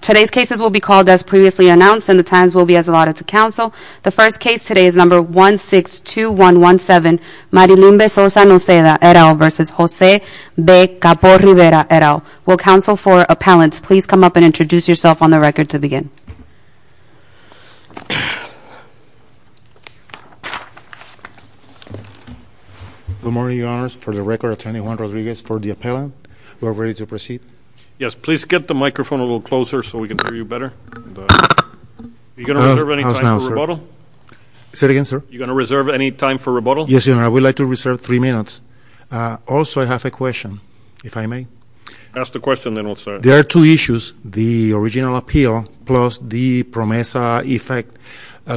Today's cases will be called as previously announced and the times will be as allotted to counsel. The first case today is number 162117 Marilumbe-Sosa-Noceda, et al. v. Jose B. Capo-Rivera, et al. Will counsel for appellants please come up and introduce yourself on the record to begin. Good morning, your honors. For the record, attorney Juan Rodriguez for the appellant, we are ready to proceed. Yes, please get the microphone a little closer so we can hear you better. Are you going to reserve any time for rebuttal? Say it again, sir? Are you going to reserve any time for rebuttal? Yes, your honor. I would like to reserve three minutes. Also, I have a question, if I may. Ask the question then, I'll start. There are two issues, the original appeal plus the PROMESA effect.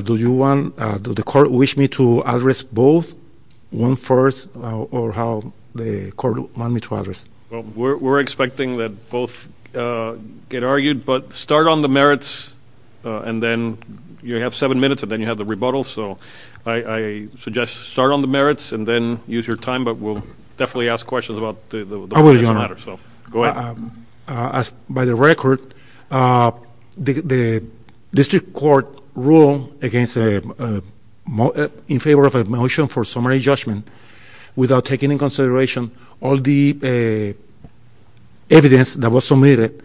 Do you want, does the court wish me to address both, one first, or how the court want me to address? We're expecting that both get argued, but start on the merits and then you have seven minutes and then you have the rebuttal, so I suggest start on the merits and then use your time, but we'll definitely ask questions about the merits of the matter, so go ahead. By the record, the district court ruled in favor of a motion for summary judgment without taking into consideration all the evidence that was submitted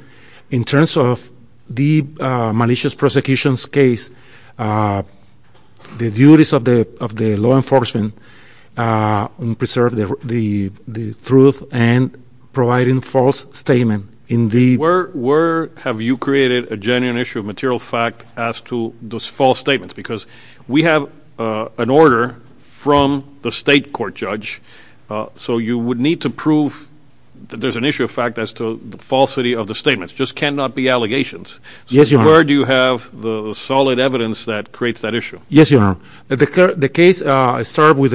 in terms of the malicious prosecutions case, the duties of the law enforcement in preserving the truth and providing false statement in the... Where have you created a genuine issue of material fact as to those false statements? Because we have an order from the state court judge, so you would need to prove that there's an issue of fact as to the falsity of the statements. Just cannot be allegations. Yes, Your Honor. So where do you have the solid evidence that creates that issue? Yes, Your Honor. The case started with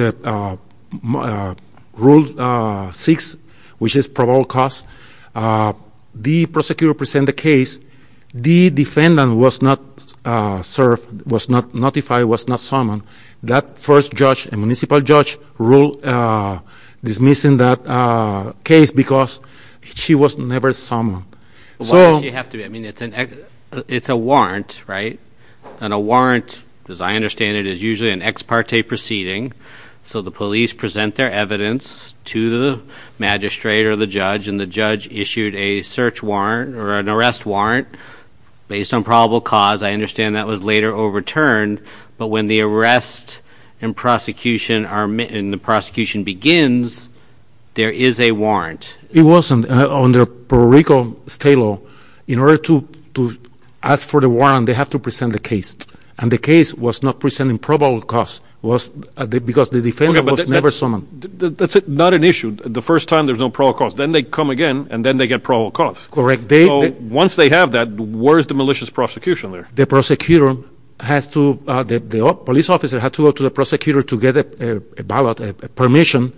Rule 6, which is probable cause. The prosecutor present the case. The defendant was not served, was not notified, was not summoned. That first judge, a municipal judge, ruled dismissing that case because she was never summoned. So... Why does she have to be? I mean, it's a warrant, right? And a warrant, as I understand it, is usually an ex parte proceeding, so the police present their evidence to the magistrate or the judge, and the judge issued a search warrant or an arrest warrant based on probable cause. I understand that was later overturned, but when the arrest and the prosecution begins, there is a warrant. It wasn't. Under Puerto Rico state law, in order to ask for the warrant, they have to present the case. And the case was not presenting probable cause, because the defendant was never summoned. That's not an issue. The first time there's no probable cause, then they come again, and then they get probable cause. Correct. So once they have that, where is the malicious prosecution there? The prosecutor has to, the police officer has to go to the prosecutor to get a ballot, a permission,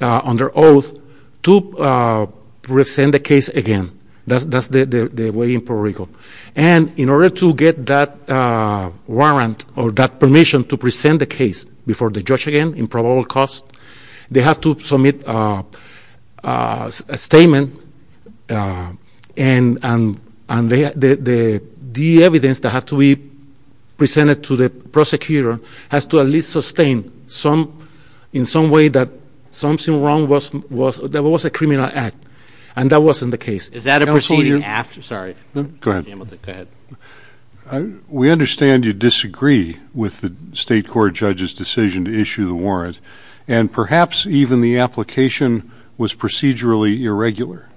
under oath, to present the case again. That's the way in Puerto Rico. And in order to get that warrant or that permission to present the case before the judge again in probable cause, they have to submit a statement, and the evidence that has to be presented to the prosecutor has to at least sustain, in some way, that something wrong was, that was a criminal act. And that wasn't the case. Is that a proceeding after? Sorry. Go ahead. Go ahead. We understand you disagree with the state court judge's decision to issue the warrant, and perhaps even the application was procedurally irregular.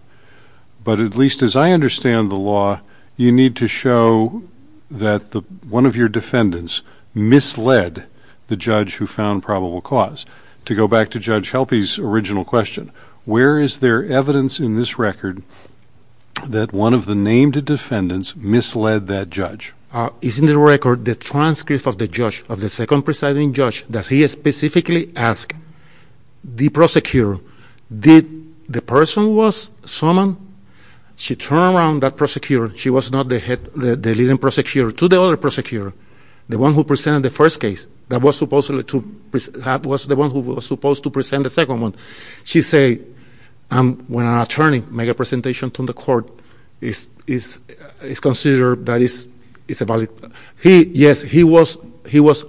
But at least as I understand the law, you need to show that one of your defendants misled the judge who found probable cause. To go back to Judge Helpe's original question, where is there evidence in this record that one of the named defendants misled that judge? It's in the record, the transcript of the judge, of the second presiding judge, that he specifically asked the prosecutor, did the person was someone? She turned around that prosecutor, she was not the leading prosecutor, to the other prosecutor, the one who presented the first case, that was the one who was supposed to present the second one. She said, when an attorney make a presentation to the court, it's considered that it's a valid, he, yes, he was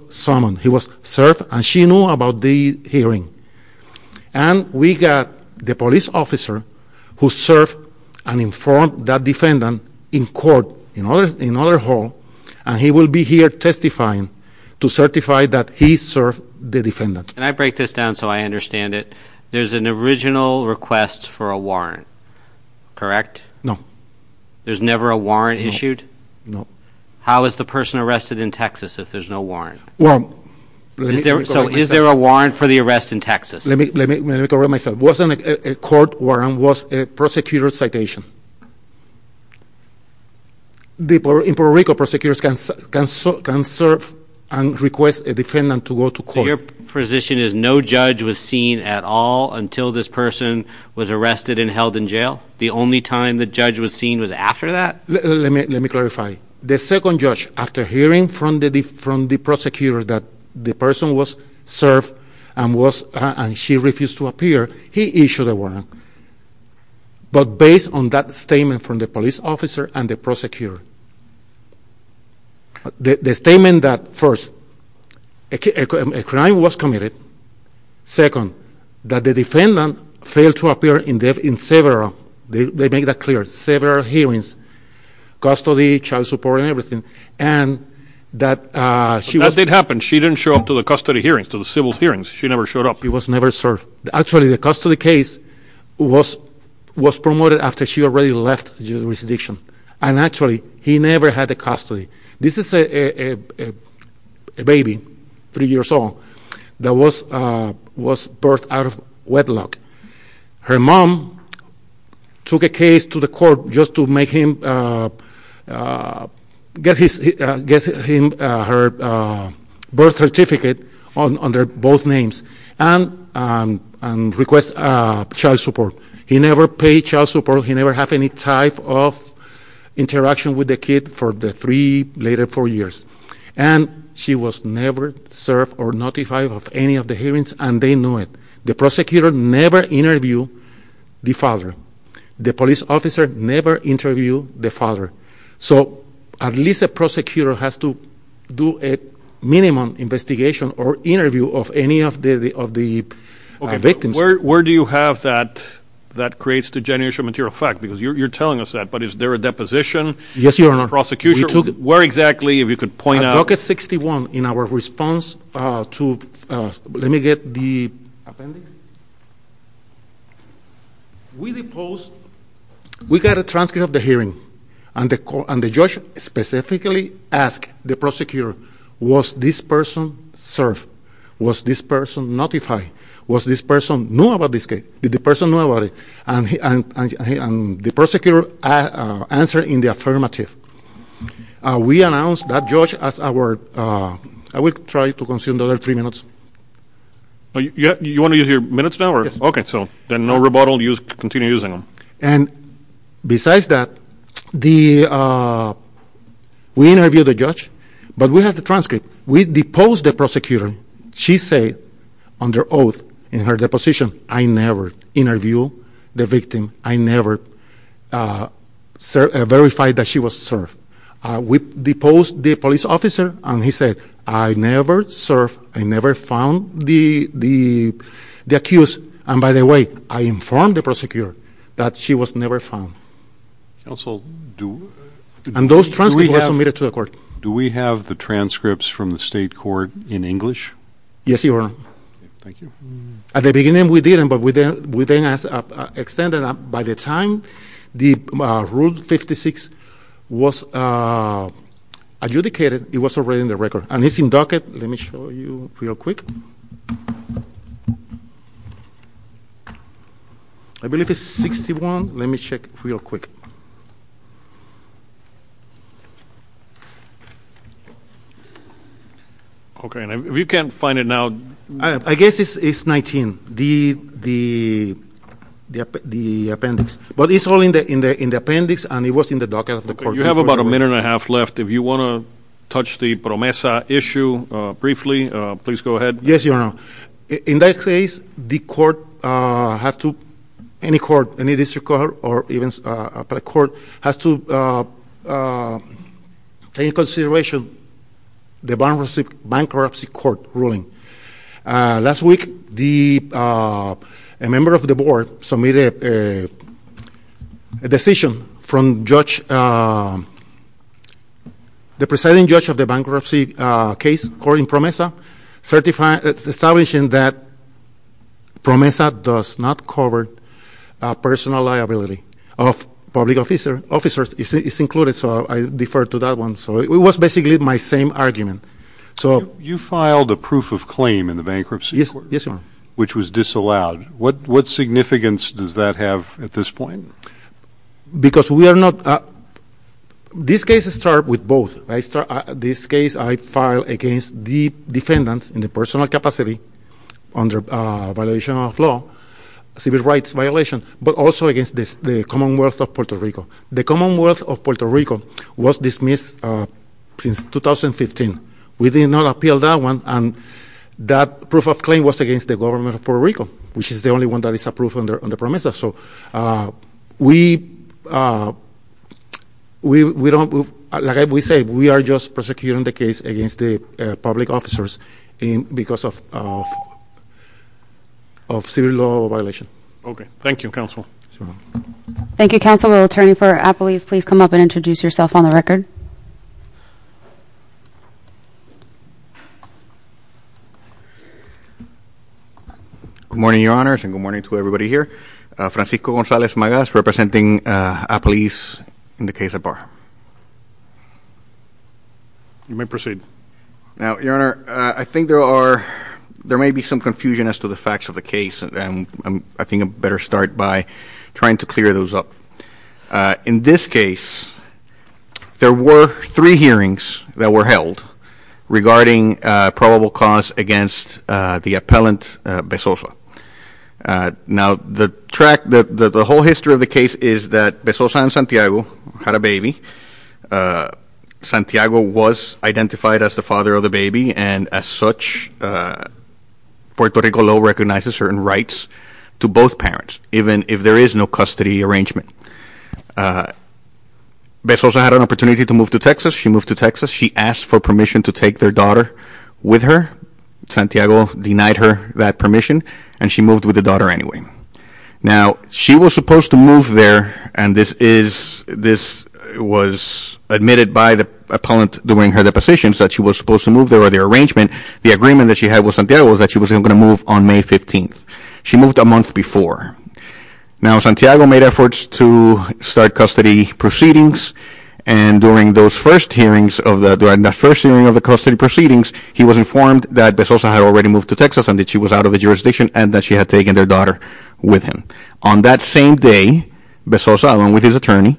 summoned. He was served, and she knew about the hearing. And we got the police officer who served and informed that defendant in court, in other hall, and he will be here testifying to certify that he served the defendant. And I break this down so I understand it. There's an original request for a warrant, correct? There's never a warrant issued? No. How is the person arrested in Texas if there's no warrant? Well, let me correct myself. So is there a warrant for the arrest in Texas? Let me correct myself. It wasn't a court warrant, it was a prosecutor's citation. The Puerto Rico prosecutors can serve and request a defendant to go to court. Your position is no judge was seen at all until this person was arrested and held in The only time the judge was seen was after that? Let me clarify. The second judge, after hearing from the prosecutor that the person was served and she refused to appear, he issued a warrant. But based on that statement from the police officer and the prosecutor, the statement that first, a crime was committed, second, that the defendant failed to appear in several, they make that clear, several hearings, custody, child support, and everything, and that she But that did happen. She didn't show up to the custody hearings, to the civil hearings. She never showed up. She was never served. Actually, the custody case was promoted after she already left the jurisdiction. And actually, he never had the custody. This is a baby, three years old, that was birthed out of wedlock. Her mom took a case to the court just to make him, get him her birth certificate under both names and request child support. He never paid child support. He never had any type of interaction with the kid for the three, later four years. And she was never served or notified of any of the hearings, and they knew it. The prosecutor never interviewed the father. The police officer never interviewed the father. So at least the prosecutor has to do a minimum investigation or interview of any of the victims. Where do you have that, that creates degeneration of material fact? Because you're telling us that. But is there a deposition? Yes, Your Honor. In the prosecution? We took it. Where exactly, if you could point out? At bucket 61, in our response to, let me get the appendix. We deposed, we got a transcript of the hearing, and the judge specifically asked the prosecutor, was this person served? Was this person notified? Was this person know about this case? Did the person know about it? And the prosecutor answered in the affirmative. We announced that judge as our, I will try to consume the other three minutes. You want to use your minutes now? Yes. Okay, so then no rebuttal, continue using them. And besides that, we interviewed the judge, but we have the transcript. We deposed the prosecutor. She said, under oath, in her deposition, I never interview the victim. I never verify that she was served. We deposed the police officer, and he said, I never served, I never found the accused. And by the way, I informed the prosecutor that she was never found. Counsel, do- And those transcripts were submitted to the court. Do we have the transcripts from the state court in English? Yes, your honor. Thank you. At the beginning, we didn't, but we then extended it. By the time the rule 56 was adjudicated, it was already in the record. And it's in docket. Let me show you real quick. I believe it's 61. Let me check real quick. Okay, and if you can't find it now- I guess it's 19, the appendix. But it's all in the appendix, and it was in the docket of the court. You have about a minute and a half left. If you want to touch the PROMESA issue briefly, please go ahead. Yes, your honor. In that case, the court have to, any court, any district court, or even a private court, has to take into consideration the bankruptcy court ruling. Last week, a member of the board submitted a decision from judge, the presiding judge of the bankruptcy case, Cory Promesa, certifying, establishing that PROMESA does not cover personal liability of public officers, it's included, so I defer to that one. So it was basically my same argument. So- You filed a proof of claim in the bankruptcy court. Yes, your honor. Which was disallowed. What significance does that have at this point? Because we are not, this case start with both. This case I filed against the defendants in the personal capacity under violation of law, civil rights violation, but also against the Commonwealth of Puerto Rico. The Commonwealth of Puerto Rico was dismissed since 2015. We did not appeal that one, and that proof of claim was against the government of Puerto Rico, which is the only one that is approved under PROMESA. So we don't, like we say, we are just prosecuting the case against the public officers because of civil law violation. Okay, thank you, counsel. Thank you, counsel. Will attorney for Appalease please come up and introduce yourself on the record? Good morning, your honors, and good morning to everybody here. Francisco Gonzalez Magas, representing Appalease in the case at bar. You may proceed. Now, your honor, I think there are, there may be some confusion as to the facts of the case. And I think I better start by trying to clear those up. In this case, there were three hearings that were held regarding probable cause against the appellant, Besosa. Now, the track, the whole history of the case is that Besosa and Santiago had a baby. Santiago was identified as the father of the baby, and as such, Puerto Rico law recognizes certain rights to both parents, even if there is no custody arrangement. Besosa had an opportunity to move to Texas. She moved to Texas. She asked for permission to take their daughter with her. Santiago denied her that permission, and she moved with the daughter anyway. Now, she was supposed to move there, and this was admitted by the appellant doing her depositions that she was supposed to move there, or their arrangement. The agreement that she had with Santiago was that she was going to move on May 15th. She moved a month before. Now, Santiago made efforts to start custody proceedings, and during the first hearing of the custody proceedings, he was informed that Besosa had already moved to Texas, and that she was out of the jurisdiction, and that she had taken their daughter with him. On that same day, Besosa, along with his attorney,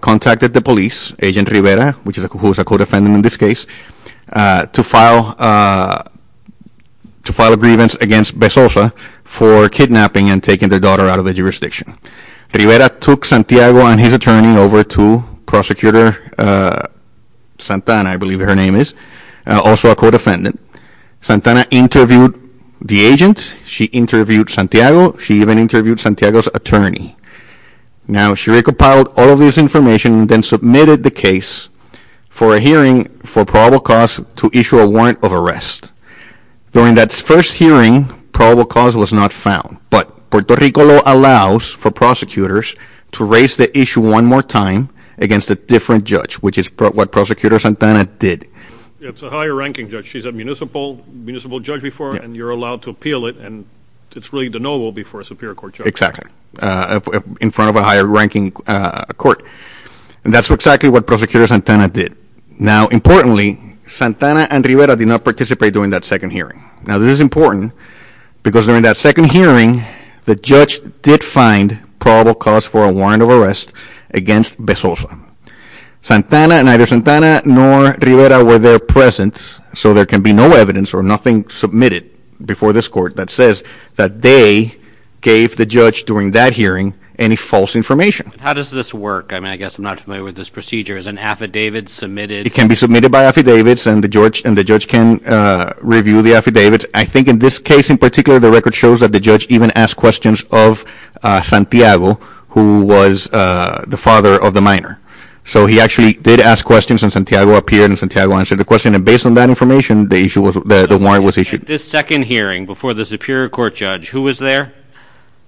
contacted the police, Agent Rivera, who is a co-defendant in this case, to file a grievance against Besosa for kidnapping and taking their daughter out of the jurisdiction. Rivera took Santiago and his attorney over to Prosecutor Santana, I believe her name is, also a co-defendant. Santana interviewed the agent, she interviewed Santiago, she even interviewed Santiago's attorney. Now, she recompiled all of this information, then submitted the case for a hearing for probable cause to issue a warrant of arrest. During that first hearing, probable cause was not found, but Puerto Rico law allows for prosecutors to raise the issue one more time against a different judge, which is what Prosecutor Santana did. It's a higher ranking judge. She's a municipal judge before, and you're allowed to appeal it, and it's really the noble before a superior court judge. Exactly, in front of a higher ranking court, and that's exactly what Prosecutor Santana did. Now, importantly, Santana and Rivera did not participate during that second hearing. Now, this is important because during that second hearing, the judge did find probable cause for a warrant of arrest against Besosa. Santana, neither Santana nor Rivera were there present, so there can be no evidence or nothing submitted before this court that says that they gave the judge during that hearing any false information. How does this work? I mean, I guess I'm not familiar with this procedure. Is an affidavit submitted? It can be submitted by affidavits, and the judge can review the affidavits. I think in this case in particular, the record shows that the judge even asked questions of Santiago, who was the father of the minor. So he actually did ask questions, and Santiago appeared, answered the question, and based on that information, the warrant was issued. This second hearing, before the superior court judge, who was there?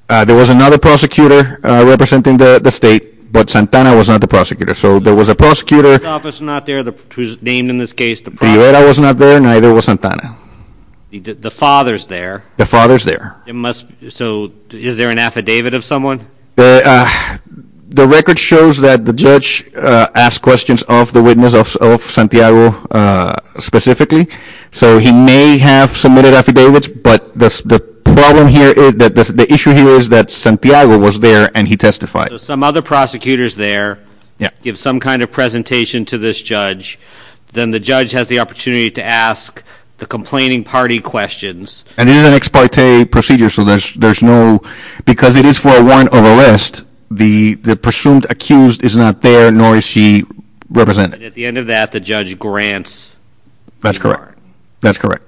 There was another prosecutor representing the state, but Santana was not the prosecutor. So there was a prosecutor who was named in this case. Rivera was not there, neither was Santana. The father's there. The father's there. So is there an affidavit of someone? The record shows that the judge asked questions of the witness of Santiago specifically. So he may have submitted affidavits, but the issue here is that Santiago was there, and he testified. Some other prosecutors there give some kind of presentation to this judge. Then the judge has the opportunity to ask the complaining party questions. And this is an ex parte procedure, so there's no... Because it is for a warrant of arrest, the presumed accused is not there, nor is she represented. At the end of that, the judge grants... That's correct. That's correct.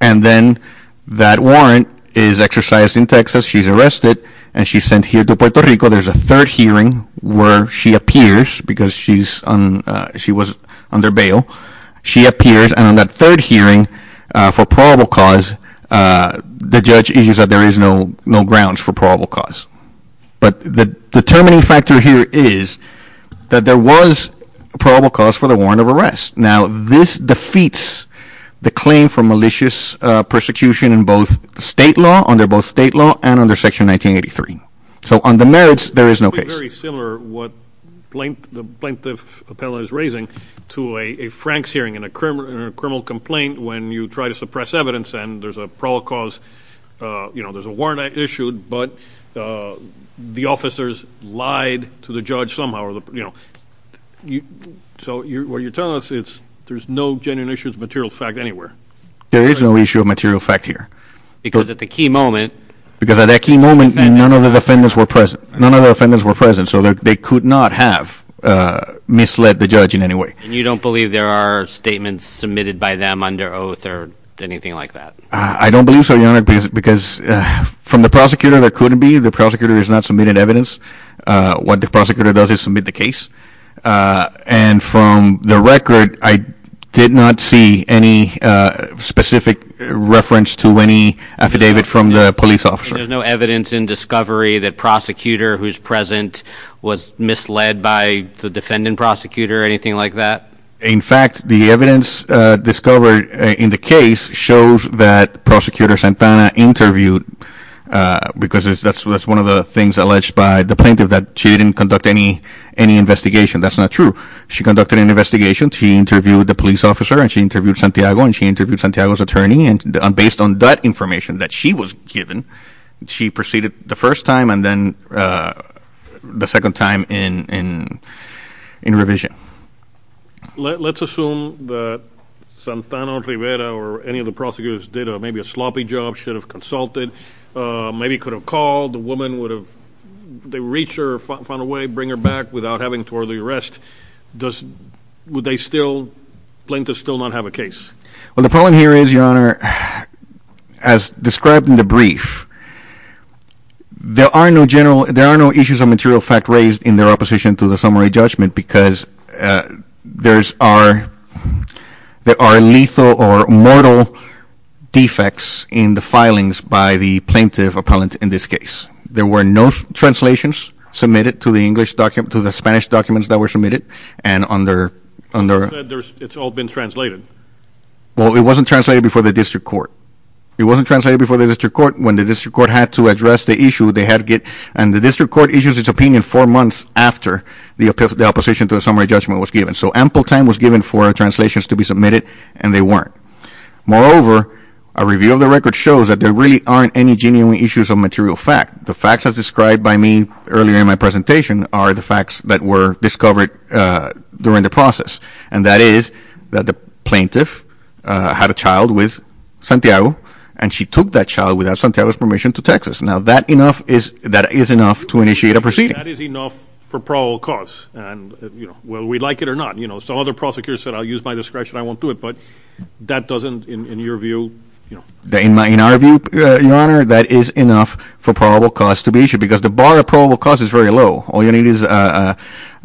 And then that warrant is exercised in Texas. She's arrested, and she's sent here to Puerto Rico. There's a third hearing where she appears, because she was under bail. She appears, and on that third hearing for probable cause, the judge issues that there is no grounds for probable cause. But the determining factor here is that there was probable cause for the warrant of arrest. Now, this defeats the claim for malicious persecution in both state law, under both state law and under Section 1983. So on the merits, there is no case. Very similar, what the plaintiff appellant is raising, to a Franks hearing in a criminal complaint when you try to suppress evidence, and there's a probable cause, there's a warrant issued, but the officers lied to the judge somehow. So what you're telling us, there's no genuine issues of material fact anywhere. There is no issue of material fact here. Because at the key moment... Because at that key moment, none of the defendants were present. None of the defendants were present. So they could not have misled the judge in any way. And you don't believe there are statements submitted by them under oath or anything like that? I don't believe so, Your Honor, because from the prosecutor, there couldn't be. The prosecutor has not submitted evidence. What the prosecutor does is submit the case. And from the record, I did not see any specific reference to any affidavit from the police officer. There's no evidence in discovery that prosecutor who's present was misled by the defendant prosecutor or anything like that? In fact, the evidence discovered in the case shows that Prosecutor Santana interviewed, because that's one of the things alleged by the plaintiff, that she didn't conduct any investigation. That's not true. She conducted an investigation. She interviewed the police officer, and she interviewed Santiago, and she interviewed Santiago's attorney. Based on that information that she was given, she proceeded the first time and then the second time in revision. Let's assume that Santana Rivera or any of the prosecutors did maybe a sloppy job, should have consulted, maybe could have called. The woman would have reached her, found a way, bring her back without having to order the arrest. Would the plaintiff still not have a case? Well, the problem here is, Your Honor, as described in the brief, there are no general, there are no issues of material fact raised in their opposition to the summary judgment, because there are lethal or mortal defects in the filings by the plaintiff appellant in this case. There were no translations submitted to the English document, to the Spanish documents that were submitted. And under... You said it's all been translated. Well, it wasn't translated before the district court. It wasn't translated before the district court. When the district court had to address the issue, they had to get... And the district court issues its opinion four months after the opposition to the summary judgment was given. So ample time was given for translations to be submitted, and they weren't. Moreover, a review of the record shows that there really aren't any genuine issues of material fact. The facts as described by me earlier in my presentation are the facts that were discovered during the process. And that is that the plaintiff had a child with Santiago, and she took that child without Santiago's permission to Texas. Now, that is enough to initiate a proceeding. That is enough for probable cause. And, you know, will we like it or not? You know, some other prosecutors said, I'll use my description, I won't do it. But that doesn't, in your view... In our view, Your Honor, that is enough for probable cause to be issued, because the bar of probable cause is very low. All you need is an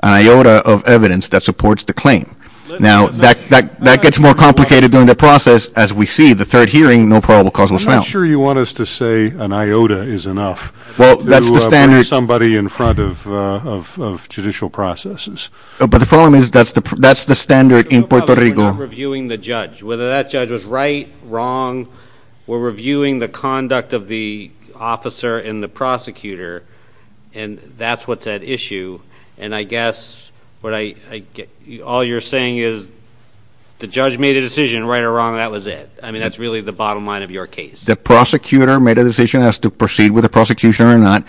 iota of evidence that supports the claim. Now, that gets more complicated during the process. As we see, the third hearing, no probable cause was found. I'm not sure you want us to say an iota is enough. Well, that's the standard. To put somebody in front of judicial processes. But the problem is that's the standard in Puerto Rico. We're not reviewing the judge. Whether that judge was right, wrong, we're reviewing the conduct of the officer and the prosecutor. And that's what's at issue. And I guess what I... All you're saying is the judge made a decision, right or wrong, that was it. I mean, that's really the bottom line of your case. The prosecutor made a decision as to proceed with the prosecution or not.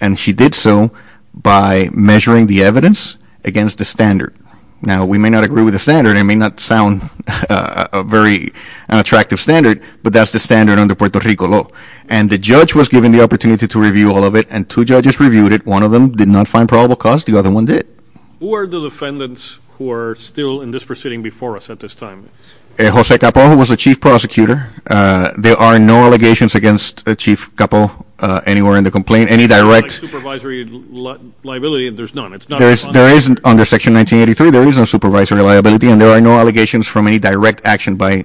And she did so by measuring the evidence against the standard. Now, we may not agree with the standard. It may not sound a very attractive standard. But that's the standard under Puerto Rico law. And the judge was given the opportunity to review all of it. And two judges reviewed it. One of them did not find probable cause. The other one did. Who are the defendants who are still in this proceeding before us at this time? Jose Capo, who was the chief prosecutor. There are no allegations against Chief Capo anywhere in the complaint. Any direct... It's not like supervisory liability. There's none. There isn't. Under Section 1983, there is no supervisory liability. And there are no allegations from any direct action by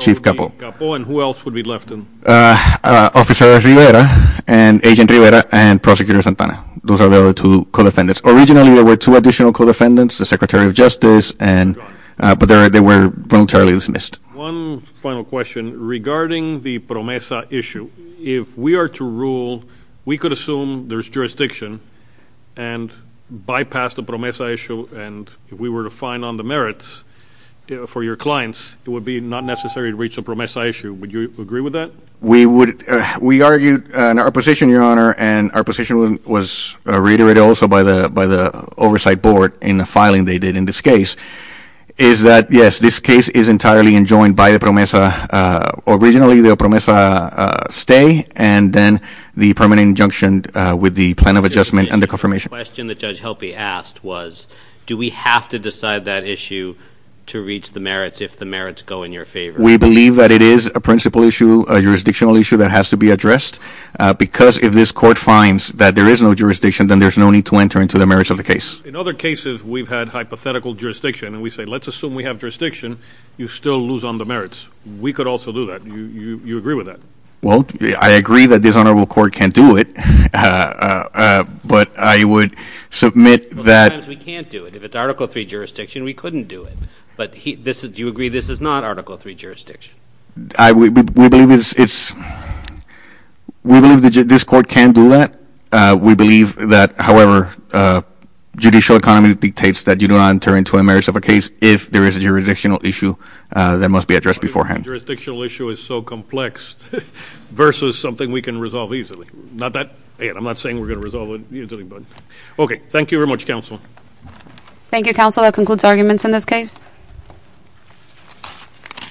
Chief Capo. And who else would be left? Officer Rivera and Agent Rivera and Prosecutor Santana. Those are the other two co-defendants. Originally, there were two additional co-defendants. The Secretary of Justice and... But they were voluntarily dismissed. One final question regarding the PROMESA issue. If we are to rule, we could assume there's jurisdiction and bypass the PROMESA issue. And if we were to find on the merits for your clients, it would be not necessary to reach the PROMESA issue. Would you agree with that? We would... We argued in our position, Your Honor, and our position was reiterated also by the oversight board in the filing they did in this case, is that, yes, this case is entirely enjoined by the PROMESA. Originally, the PROMESA stay and then the permanent injunction with the plan of adjustment and the confirmation. The question that Judge Helpe asked was, do we have to decide that issue to reach the merits if the merits go in your favor? We believe that it is a principal issue, a jurisdictional issue that has to be addressed because if this court finds that there is no jurisdiction, then there's no need to enter into the merits of the case. In other cases, we've had hypothetical jurisdiction and we say, let's assume we have jurisdiction, you still lose on the merits. We could also do that. Do you agree with that? Well, I agree that this honorable court can do it, but I would submit that... Sometimes we can't do it. If it's Article III jurisdiction, we couldn't do it. Do you agree this is not Article III jurisdiction? We believe that this court can do that. We believe that, however, judicial economy dictates that you do not enter into a merits of a case if there is a jurisdictional issue that must be addressed beforehand. Jurisdictional issue is so complex versus something we can resolve easily. I'm not saying we're going to resolve it easily, but okay, thank you very much, counsel. Thank you, counsel. That concludes arguments in this case. Thank you.